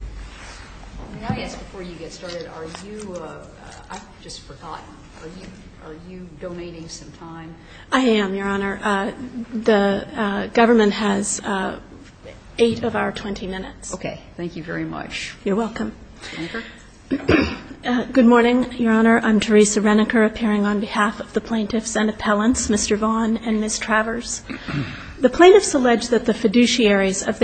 May I ask before you get started, are you, I just forgot, are you donating some time? I am, Your Honor. The government has eight of our 20 minutes. Okay. Thank you very much. You're welcome. Reneker? Good morning, Your Honor. I'm Teresa Reneker, appearing on behalf of the plaintiffs and appellants, Mr. Vaughn and Ms. Travers. The plaintiffs allege that the fiduciaries of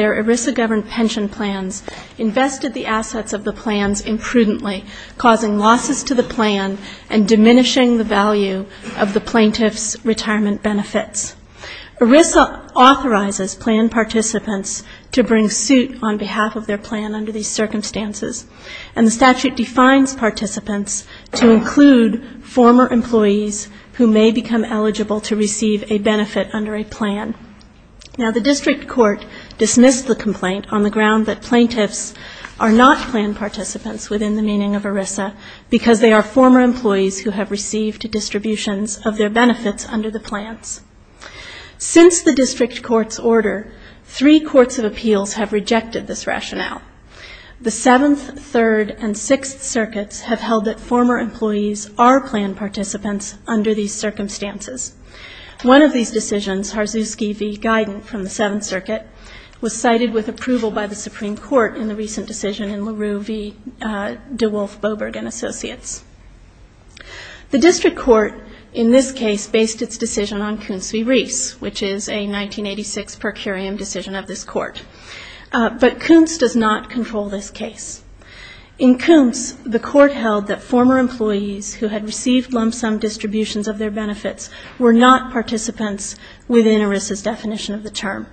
the plans imprudently, causing losses to the plan and diminishing the value of the plaintiff's retirement benefits. ERISA authorizes plan participants to bring suit on behalf of their plan under these circumstances. And the statute defines participants to include former employees who may become eligible to receive a benefit under a plan. Now, the district court dismissed the complaint on the ground that plaintiffs are not plan participants within the meaning of ERISA because they are former employees who have received distributions of their benefits under the plans. Since the district court's order, three courts of appeals have rejected this rationale. The Seventh, Third, and Sixth Circuits have held that former employees are plan participants under these circumstances. One of these decisions, Harzuski v. Guidant from the Seventh Circuit, was cited with approval by the Supreme Court in the recent decision in LaRue v. DeWolf-Boberg and Associates. The district court in this case based its decision on Koontz v. Reese, which is a 1986 per curiam decision of this court. But Koontz does not control this case. In Koontz, the benefits were not participants within ERISA's definition of the term.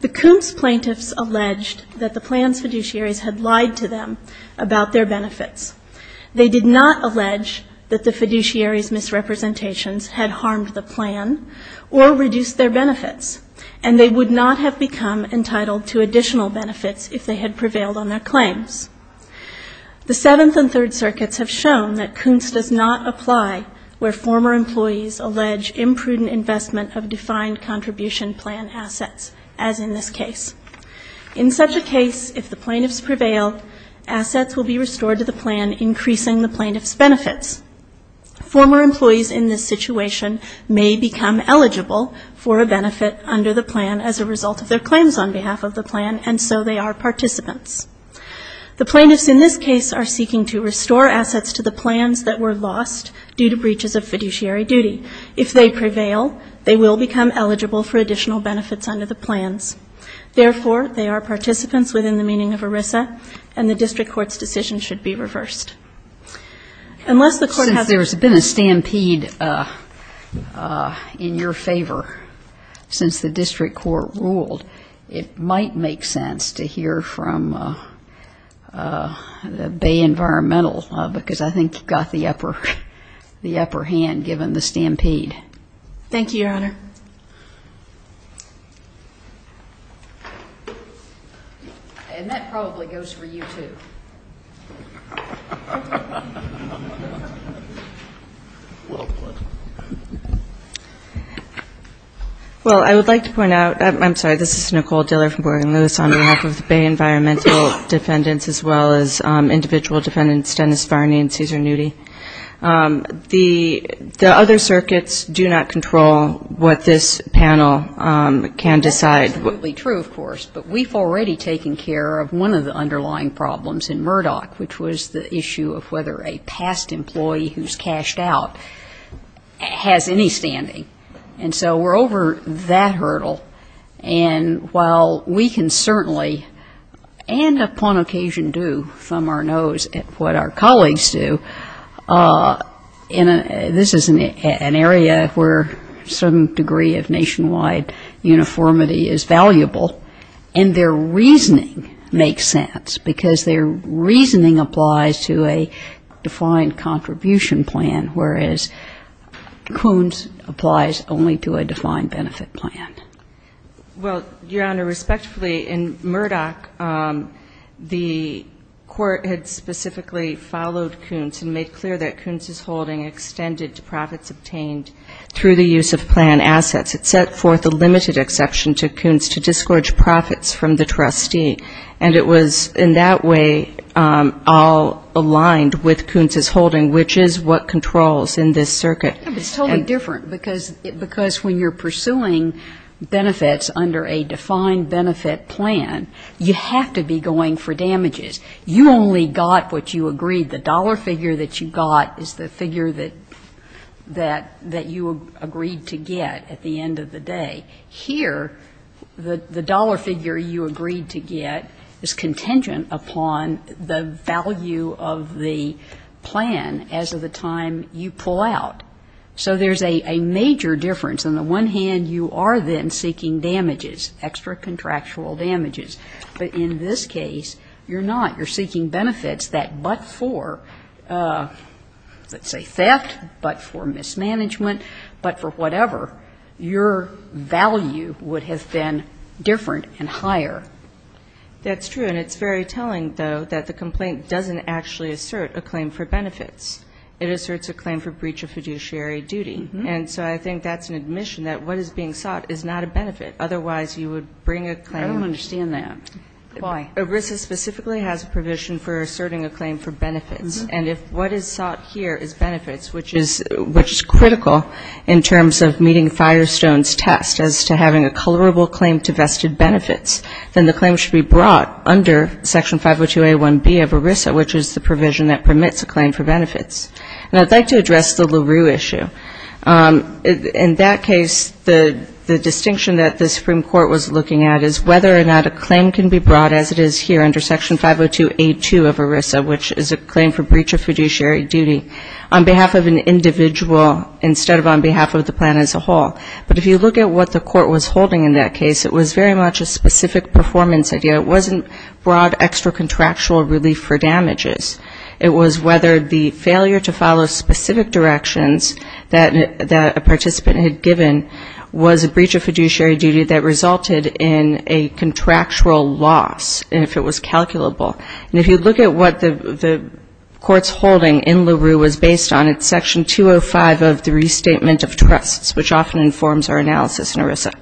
The Koontz plaintiffs alleged that the plan's fiduciaries had lied to them about their benefits. They did not allege that the fiduciaries' misrepresentations had harmed the plan or reduced their benefits, and they would not have become entitled to additional benefits if they had prevailed on their claims. The Seventh and Third Circuits have shown that Koontz does not apply where former employees allege imprudent investment of defined contribution plan assets, as in this case. In such a case, if the plaintiffs prevail, assets will be restored to the plan, increasing the plaintiffs' benefits. Former employees in this situation may become eligible for a benefit under the plans. The plaintiffs in this case are seeking to restore assets to the plans that were lost due to breaches of fiduciary duty. If they prevail, they will become eligible for additional benefits under the plans. Therefore, they are participants within the meaning of ERISA, and the district court's decision should be reversed. Unless the court has to do that. Since there's been a stampede in your favor since the district court ruled, it might make sense to hear from the Bay Environmental Club, because I think you've got the upper hand given the stampede. And that probably goes for you, too. Well, I would like to point out, I'm sorry, this is Nicole Diller from Morgan Lewis on behalf of the Bay Environmental Defendants, as well as individual defendants Dennis Varney and Cesar Newdy. The other circuits do not control what this panel can decide. Absolutely true, of course. But we've already taken care of one of the underlying problems in Murdoch, which was the issue of whether a past employee who's cashed out has any standing. And so we're over that hurdle. And while we can certainly, and upon occasion do, thumb our nose at what our colleagues do, this is an area where some degree of nationwide uniformity is valuable. And their reasoning makes sense, because their reasoning applies to a defined contribution plan, whereas Koons applies only to a defined benefit plan. Well, Your Honor, respectfully, in Murdoch, the court had specifically followed Koons and made clear that Koons' holding extended to profits obtained through the use of plan assets. It set forth a limited exception to Koons to disgorge profits from the trustee. And it was in that way all aligned with Koons' holding, which is what controls in this circuit. It's totally different, because when you're pursuing benefits under a defined benefit plan, you have to be going for damages. You only got what you agreed. The dollar figure that you got is the figure that you agreed to get at the end of the day. Here, the dollar figure you agreed to get is contingent upon the value of the plan as of the time you pull out. So there's a major difference. On the one hand, you are then seeking damages, extra contractual damages. But in this case, you're not. You're seeking benefits that but for, let's say theft, but for mismanagement, but for whatever, your value would have been different and higher. That's true. And it's very telling, though, that the complaint doesn't actually assert a claim for benefits. It asserts a claim for breach of fiduciary duty. And so I think that's an admission that what is being sought is not a benefit. Otherwise, you would bring a claim. I don't understand that. Why? ERISA specifically has a provision for asserting a claim for benefits. And if what is sought here is benefits, which is critical in terms of meeting Firestone's test as to having a colorable claim to vested benefits, then the claim should be brought under Section 502A1B of ERISA, which is the provision that permits a claim for benefits. And I'd like to address the LaRue issue. In that case, the distinction that the Supreme Court was looking at is whether or not a claim can be brought as it is here under Section 502A2 of ERISA, which is a claim for breach of fiduciary duty on behalf of an individual instead of on behalf of the plan as a whole. But if you look at what the court was holding in that case, it was very much a specific performance idea. It wasn't broad extra contractual relief for damages. It was whether the failure to follow specific directions that a participant had given was a breach of fiduciary duty that resulted in a contractual loss, if it was calculable. And if you look at what the court's holding in LaRue was based on, it's Section 205 of the Restatement of Trusts, which often informs our analysis in ERISA.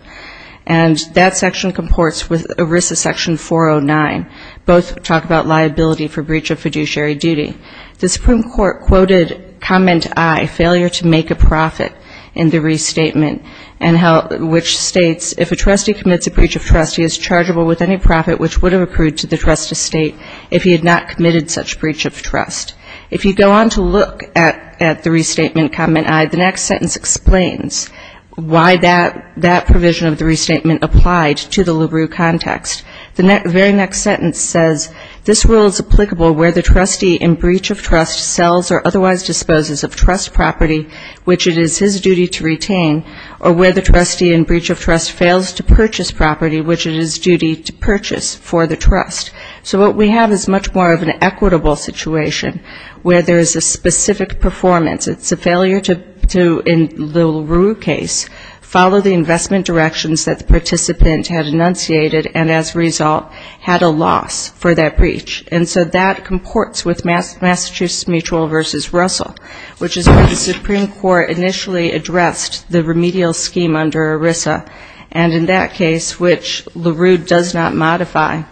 Section 409, both talk about liability for breach of fiduciary duty. The Supreme Court quoted comment I, failure to make a profit in the restatement, which states, if a trustee commits a breach of trust, he is chargeable with any profit which would have accrued to the trust estate if he had not committed such breach of trust. If you go on to look at the restatement comment I, the next sentence explains why that provision of the restatement applied to the trust estate. And the very next sentence says, this rule is applicable where the trustee in breach of trust sells or otherwise disposes of trust property, which it is his duty to retain, or where the trustee in breach of trust fails to purchase property, which it is duty to purchase for the trust. So what we have is much more of an equitable situation where there is a specific performance. It's a failure to, in the LaRue case, follow the investment directions that the participant had enunciated, and as a result, had a loss for that breach. And so that comports with Massachusetts Mutual v. Russell, which is where the Supreme Court initially addressed the remedial scheme under ERISA, and in that case, which LaRue does not modify,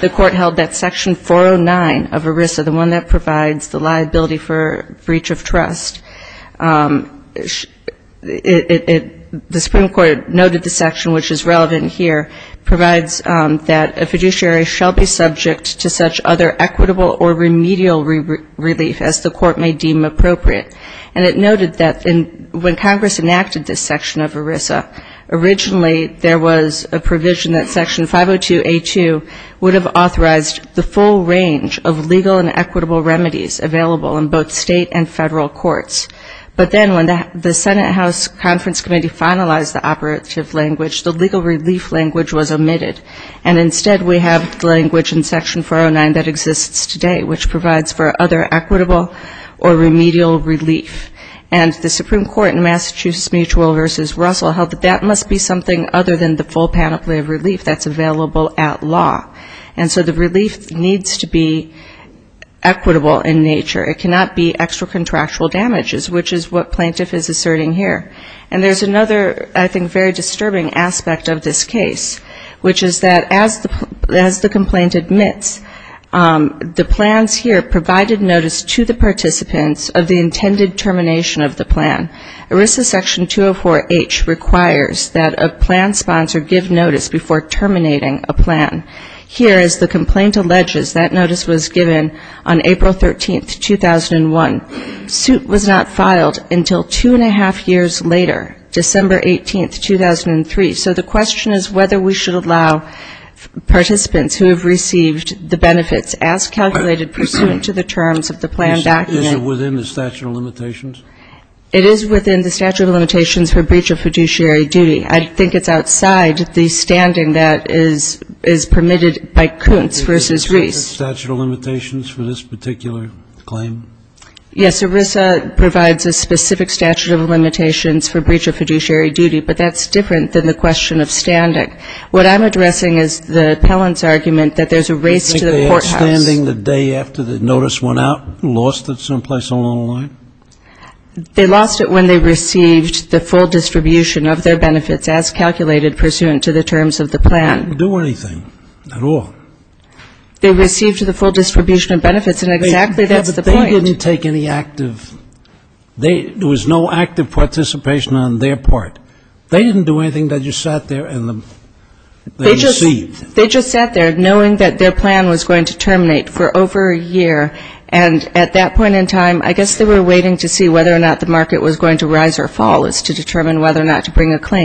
the court held that Section 409 of ERISA, the one that provides the liability for breach of trust, the Supreme Court noted the section which is relevant here, provides that a fiduciary shall be subject to such other equitable or remedial relief as the court may deem appropriate. And it noted that when Congress enacted this section of ERISA, originally there was a provision that Section 502A2 would have authorized the full range of legal and equitable remedies available in both state and federal courts. But then when the Senate House Conference Committee finalized the operative language, the legal relief language was omitted, and instead we have the language in Section 409 that exists today, which provides for other equitable or remedial relief. And the Supreme Court in Massachusetts Mutual v. Russell held that that must be something other than the full panoply of relief that's available at law. And so the relief needs to be equitable in nature. It cannot be extra contractual damages, which is what plaintiff is asserting here. The other thing to note is that as the complaint admits, the plans here provided notice to the participants of the intended termination of the plan. ERISA Section 204H requires that a plan sponsor give notice before terminating a plan. Here, as the complaint alleges, that notice was given on April 13, 2001. The suit was not filed until two and a half years later, December 18, 2003. So the question is whether we should allow participants who have received the benefits as calculated pursuant to the terms of the plan document. It is within the statute of limitations for breach of fiduciary duty. I think it's outside the standing that is permitted by Koontz v. Reese. Statute of limitations for this particular claim? Yes. ERISA provides a specific statute of limitations for breach of fiduciary duty, but that's different than the question of standing. What I'm addressing is the appellant's argument that there's a race to the courthouse. Do you think they had standing the day after the notice went out, lost it someplace along the line? They lost it when they received the full distribution of their benefits as calculated pursuant to the terms of the plan. They didn't do anything at all. They received the full distribution of benefits, and exactly that's the point. They didn't take any active, there was no active participation on their part. They didn't do anything. They just sat there and received. They just sat there knowing that their plan was going to terminate for over a year, and at that point in time, I guess they were waiting to see They're liable for breach of fiduciary duty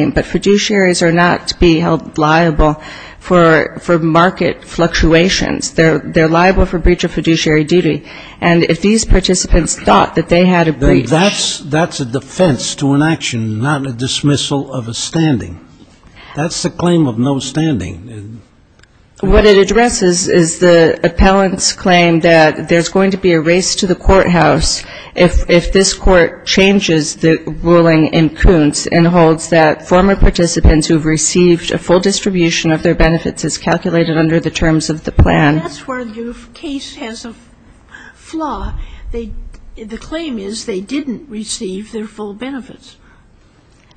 for market fluctuations. They're liable for breach of fiduciary duty, and if these participants thought that they had a breach of fiduciary duty, they would have had a breach of fiduciary duty. That's a defense to an action, not a dismissal of a standing. That's the claim of no standing. What it addresses is the appellant's claim that there's going to be a race to the courthouse if this Court changes the ruling in Kuntz and holds that former participants who have received a full distribution of their benefits as calculated under the terms of the plan. And that's where the case has a flaw. The claim is they didn't receive their full benefits.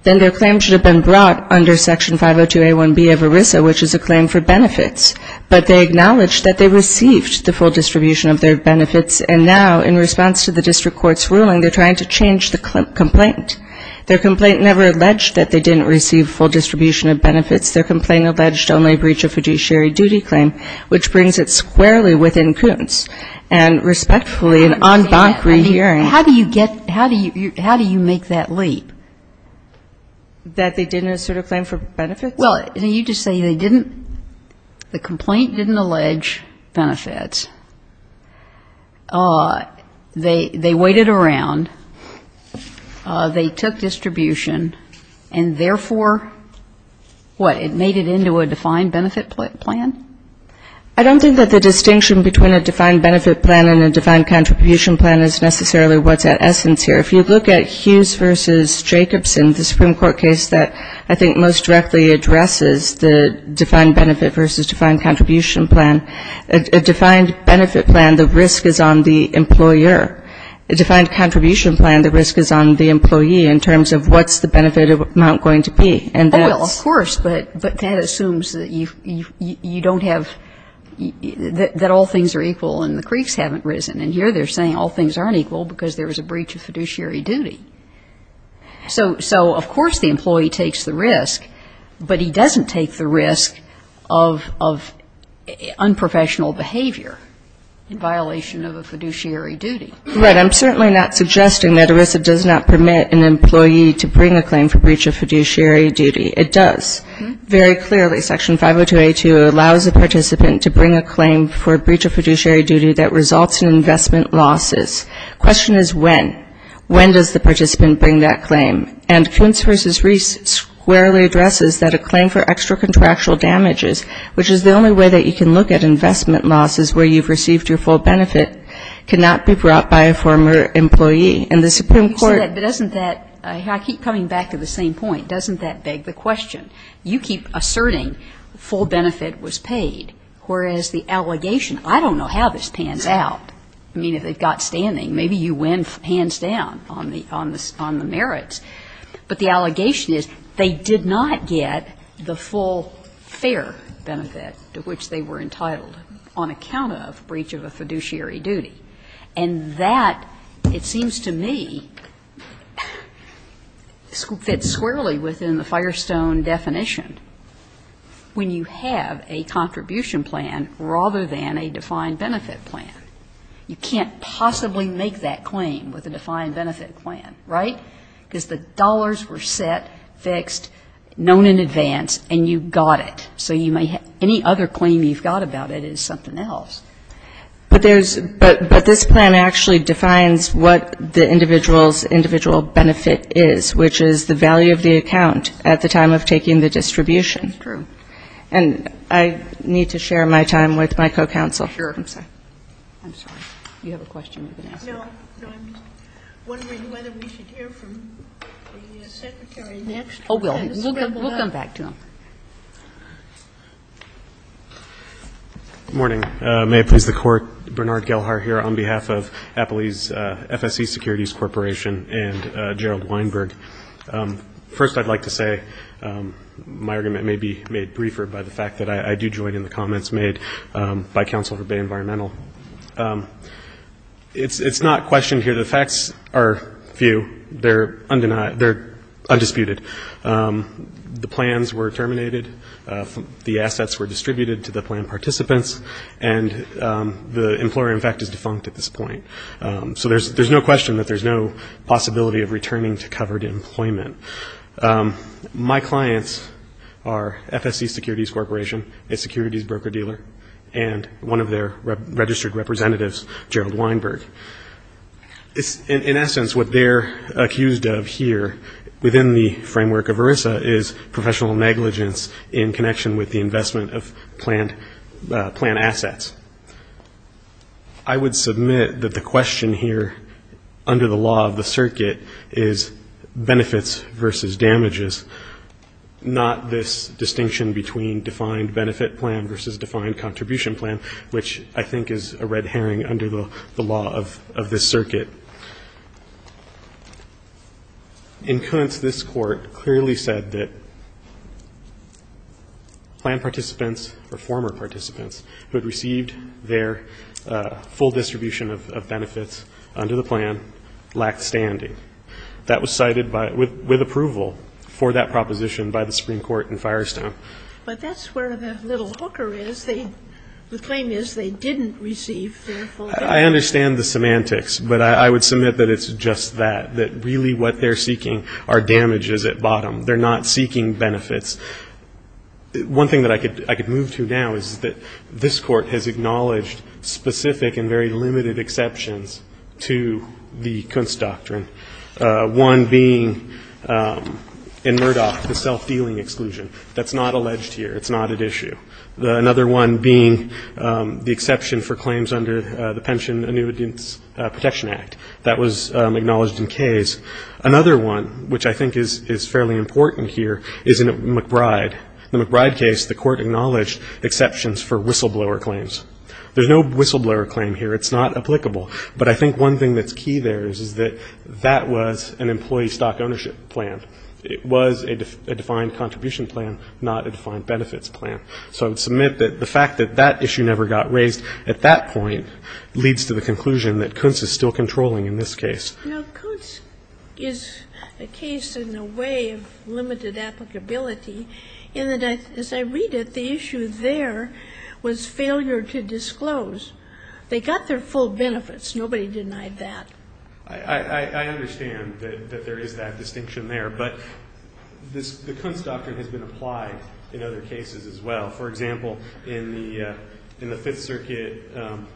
Then their claim should have been brought under Section 502A1B of ERISA, which is a claim for benefits. But they acknowledged that they received the full distribution of their benefits, and now in response to the district court's ruling, they're trying to change the complaint. Their complaint never alleged that they didn't receive full distribution of benefits. Their complaint alleged only a breach of fiduciary duty claim, which brings it squarely within Kuntz. And respectfully, in en banc rehearing ---- That they didn't assert a claim for benefits? Well, you just say they didn't, the complaint didn't allege benefits. They waited around. They took distribution, and therefore, what, it made it into a defined benefit plan? I don't think that the distinction between a defined benefit plan and a defined contribution plan is necessarily what's at essence here. If you look at Hughes v. Jacobson, the Supreme Court case that I think most directly addresses the defined benefit versus defined contribution plan, a defined benefit plan, the risk is on the employer. A defined contribution plan, the risk is on the employee in terms of what's the benefit amount going to be. And that's ---- Well, of course, but that assumes that you don't have ---- that all things are equal and the creeks haven't risen. And here they're saying all things aren't equal because there was a breach of fiduciary duty. So, of course, the employee takes the risk, but he doesn't take the risk of unprofessional behavior in violation of a fiduciary duty. Right. I'm certainly not suggesting that ERISA does not permit an employee to bring a claim for breach of fiduciary duty. It does. Very clearly, Section 502A2 allows a participant to bring a claim for a breach of fiduciary duty that results in investment losses. The question is when. When does the participant bring that claim? And Kuntz v. Reese squarely addresses that a claim for extra-contractual damages, which is the only way that you can look at investment losses where you've received your full benefit, cannot be brought by a former employee. And the Supreme Court ---- I mean, if they've got standing, maybe you win hands down on the merits. But the allegation is they did not get the full fair benefit to which they were entitled on account of breach of a fiduciary duty. And that, it seems to me, fits squarely within the Firestone definition when you have a contribution plan rather than a defined benefit plan. You can't possibly make that claim with a defined benefit plan, right? Because the dollars were set, fixed, known in advance, and you got it. So you may ---- any other claim you've got about it is something else. But there's ---- but this plan actually defines what the individual's individual benefit is, which is the value of the account at the time of taking the distribution. That's true. And I need to share my time with my co-counsel. Sure. I'm sorry. I'm sorry. You have a question you've been asking? No. No, I'm just wondering whether we should hear from the Secretary next. Oh, we'll come back to him. Good morning. May it please the Court, Bernard Gelhar here on behalf of Appley's FSC Securities Corporation and Gerald Weinberg. First, I'd like to say my argument may be made briefer by the fact that I do join in the comments made by Counsel for Bay Environmental. It's not questioned here. The facts are few. They're undeniable. They're undisputed. The plans were terminated. The assets were distributed to the plan participants. And the employer, in fact, is defunct at this point. So there's no question that there's no possibility of returning to covered employment. My clients are FSC Securities Corporation, a securities broker-dealer, and one of their registered representatives, Gerald Weinberg. In essence, what they're accused of here within the framework of ERISA is professional negligence in connection with the investment of planned assets. I would submit that the question here under the law of the circuit is benefits versus damages, not this distinction between defined benefit plan versus defined contribution plan, which I think is a red herring under the law of this circuit. In current, this Court clearly said that plan participants or former participants who had received their full distribution of benefits under the plan lacked standing. That was cited with approval for that proposition by the Supreme Court in Firestone. But that's where the little hooker is. The claim is they didn't receive their full benefits. I understand the semantics, but I would submit that it's just that, that really what they're seeking are damages at bottom. They're not seeking benefits. One thing that I could move to now is that this Court has acknowledged specific and very limited exceptions to the Kunst Doctrine, one being in Murdoch the self-dealing exclusion. That's not alleged here. It's not at issue. Another one being the exception for claims under the Pension Annuitants Protection Act. That was acknowledged in Kay's. Another one, which I think is fairly important here, is in McBride. In the McBride case, the Court acknowledged exceptions for whistleblower claims. There's no whistleblower claim here. It's not applicable. But I think one thing that's key there is that that was an employee stock ownership plan. It was a defined contribution plan, not a defined benefits plan. So I would submit that the fact that that issue never got raised at that point leads to the conclusion that Kunst is still controlling in this case. Now, Kunst is a case in a way of limited applicability in that, as I read it, the issue there was failure to disclose. They got their full benefits. Nobody denied that. I understand that there is that distinction there. But the Kunst Doctrine has been applied in other cases as well. For example, in the Fifth Circuit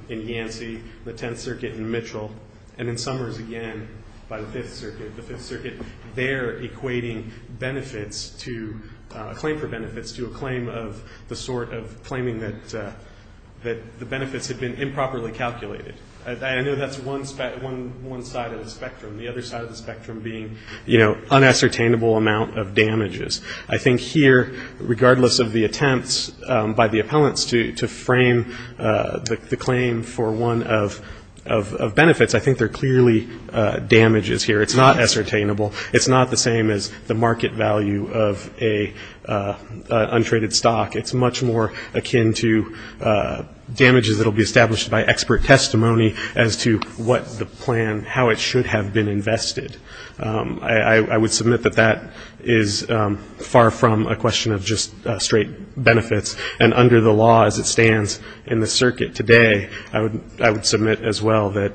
in Yancey, the Tenth Circuit in Mitchell, and in Summers again by the Fifth Circuit, the Fifth Circuit there equating benefits to a claim for benefits to a claim of the sort of claiming that the benefits had been improperly calculated. I know that's one side of the spectrum. The other side of the spectrum being, you know, unassertainable amount of damages. I think here, regardless of the attempts by the appellants to frame the claim for one of benefits, I think they're clearly damages here. It's not assertainable. It's not the same as the market value of an untraded stock. It's much more akin to damages that will be established by expert testimony as to what the plan, how it should have been invested. I would submit that that is far from a question of just straight benefits. And under the law as it stands in the circuit today, I would submit as well that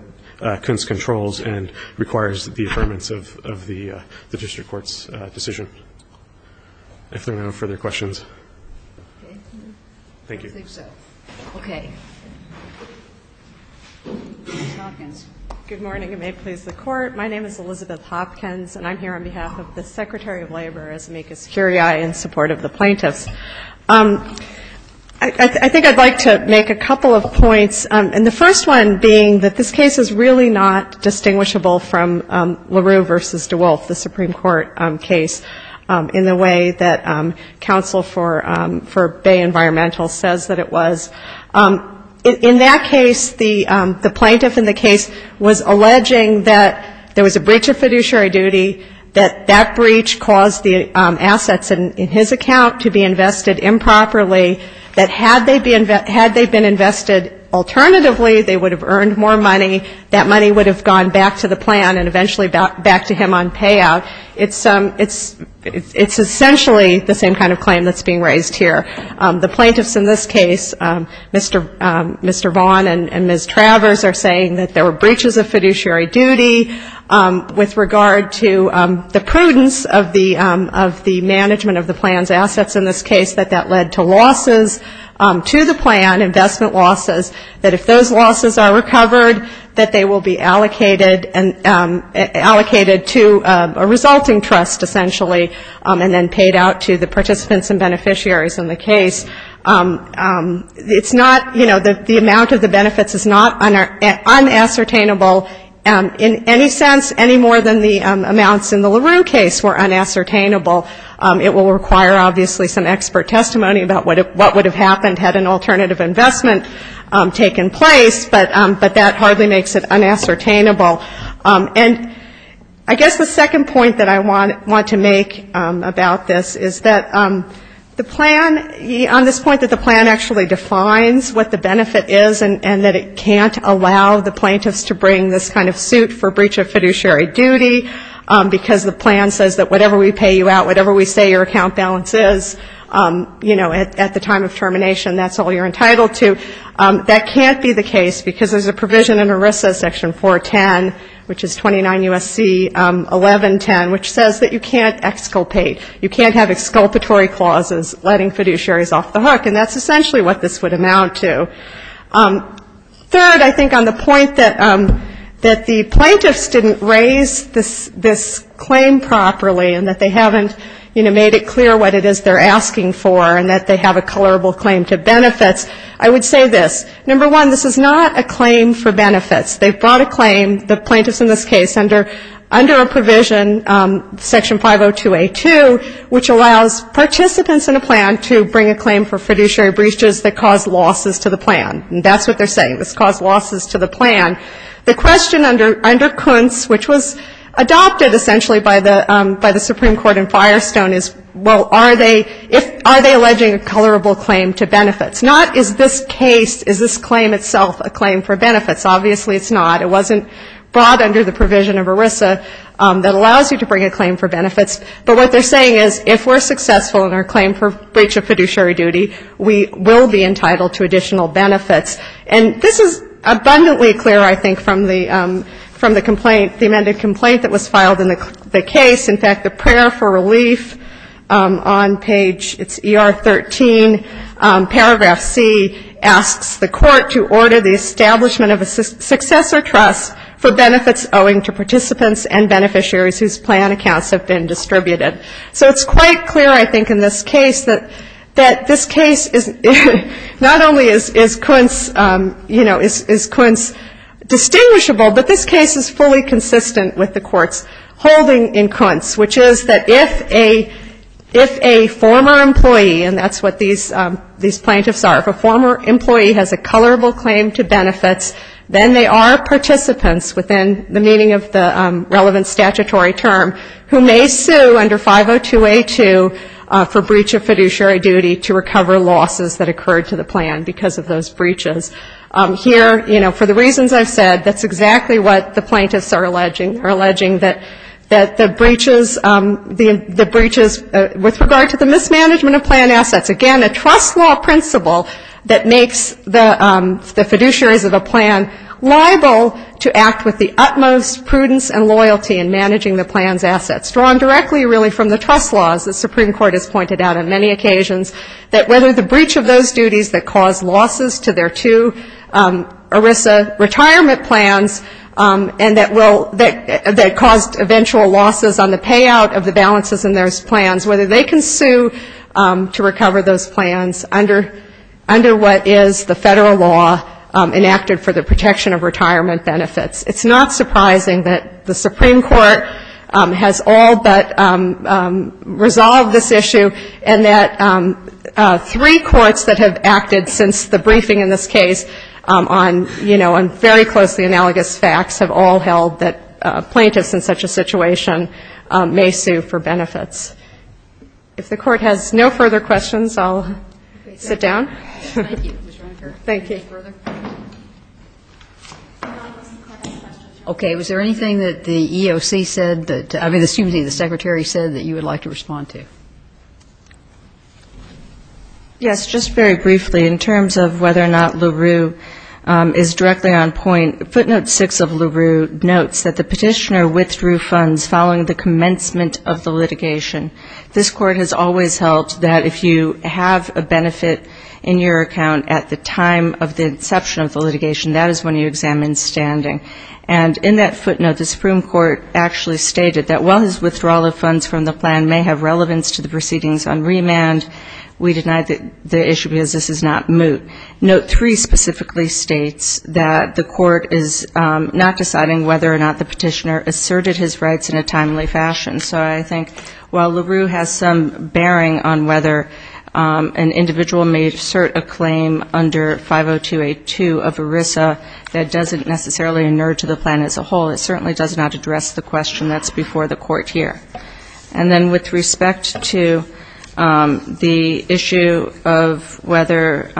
Kunst controls and requires the affirmance of the district court's decision. If there are no further questions. Thank you. I think so. Okay. Ms. Hawkins. Good morning. It may please the Court. My name is Elizabeth Hopkins, and I'm here on behalf of the Secretary of Labor, as amicus curiae, in support of the plaintiffs. I think I'd like to make a couple of points, and the first one being that this case is really not distinguishable from LaRue v. DeWolf, the Supreme Court case, in the way that counsel for Bay Environmental says that it was. In that case, the plaintiff in the case was alleging that there was a breach of fiduciary duty, that that breach caused the assets in his account to be invested improperly, that had they been invested alternatively, they would have earned more money, that money would have gone back to the plan and eventually back to him on payout. It's essentially the same kind of claim that's being raised here. The plaintiffs in this case, Mr. Vaughn and Ms. Travers, are saying that there were breaches of fiduciary duty with regard to the prudence of the management of the plan's assets. In this case, that that led to losses to the plan, investment losses, that if those losses are recovered, that they will be allocated to a resulting trust, essentially, and then paid out to the participants and beneficiaries in the case. It's not, you know, the amount of the benefits is not unassertainable in any sense, any more than the amounts in the LaRue case were unassertainable. It will require, obviously, some expert testimony about what would have happened had an alternative investment taken place, but that hardly makes it unassertainable. And I guess the second point that I want to make about this is that the plan, on this point that the plan actually defines what the benefit is and that it can't allow the plaintiffs to bring this kind of suit for breach of fiduciary duty, because the plan says that whatever we pay you out, whatever we say your account balance is, you know, at the time of termination, that's all you're entitled to, that can't be the case because there's a provision in ERISA section 410, which is 29 U.S.C. 1110, which says that you can't exculpate, you can't have exculpatory clauses letting fiduciaries off the hook, and that's essentially what this would amount to. Third, I think on the point that the plaintiffs didn't raise this claim properly and that they haven't, you know, made it clear what it is they're asking for and that they have a colorable claim to benefits, I would say this. Number one, this is not a claim for benefits. They've brought a claim, the plaintiffs in this case, under a provision, Section 502A2, which allows participants in a plan to bring a claim for fiduciary breaches that cause losses to the plan. And that's what they're saying, this cause losses to the plan. The question under Kuntz, which was adopted essentially by the Supreme Court in Firestone, is, well, are they alleging a colorable claim to benefits? Not is this case, is this claim itself a claim for benefits? Obviously it's not. It wasn't brought under the provision of ERISA that allows you to bring a claim for benefits. But what they're saying is if we're successful in our claim for breach of fiduciary duty, we will be entitled to additional benefits. And this is abundantly clear, I think, from the complaint, the amended complaint that was filed in the case. In fact, the prayer for relief on page, it's ER13, paragraph C, asks the court to order the establishment of a successor trust for benefits owing to participants and beneficiaries whose plan accounts have been distributed. So it's quite clear, I think, in this case that this case is not only is Kuntz, you know, is Kuntz distinguishable, but this case is fully consistent with the court's holding in Kuntz, which is that if a former employee, and that's what these plaintiffs are, if a former employee has a colorable claim to benefits, then they are participants within the meaning of the relevant statutory term, who may sue under 502A2 for breach of fiduciary duty to recover losses that occurred to the plan because of those breaches. Here, you know, for the reasons I've said, that's exactly what the plaintiffs are alleging, are alleging that the breaches with regard to the mismanagement of plan assets, again, a trust law principle that makes the fiduciaries of a plan liable to act with the utmost prudence and loyalty in managing the plan's assets, drawn directly, really, from the trust laws the Supreme Court has pointed out on many occasions, that whether the breach of those duties that caused losses to their two ERISA retirement plans and that caused eventual losses on the payout of the balances in those plans, whether they can sue to recover those plans under what is the federal law enacted for the protection of retirement benefits. It's not surprising that the Supreme Court has all but resolved this issue and that three courts that have acted since the briefing in this case on, you know, on very closely analogous facts have all held that plaintiffs in such a situation may sue for benefits. If the Court has no further questions, I'll sit down. Thank you. Okay. Was there anything that the EOC said that, I mean, excuse me, the Secretary said that you would like to respond to? Yes, just very briefly, in terms of whether or not LaRue is directly on point, footnote six of LaRue notes that the petitioner withdrew funds following the commencement of the litigation. This Court has always held that if you have a benefit in your account at the time of the inception of the litigation, that is when you examine standing. And in that footnote, the Supreme Court actually stated that while his withdrawal of funds from the plan may have relevance to the proceedings on remand, we deny the issue because this is not moot. Note three specifically states that the Court is not deciding whether or not the petitioner asserted his rights in a timely fashion. So I think while LaRue has some bearing on whether an individual may assert a claim under 50282 of ERISA that doesn't necessarily inure to the plan as a whole, it certainly does not address the question that's before the Court here. And then with respect to the issue of whether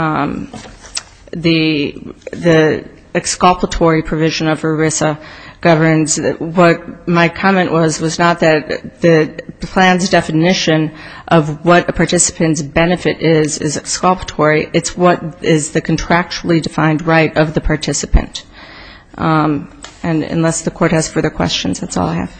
the exculpatory provision of ERISA governs what my comment was, was not that the plan's definition of what a participant's benefit is, is exculpatory, it's what is the contractually defined right of the participant. And unless the Court has further questions, that's all I have.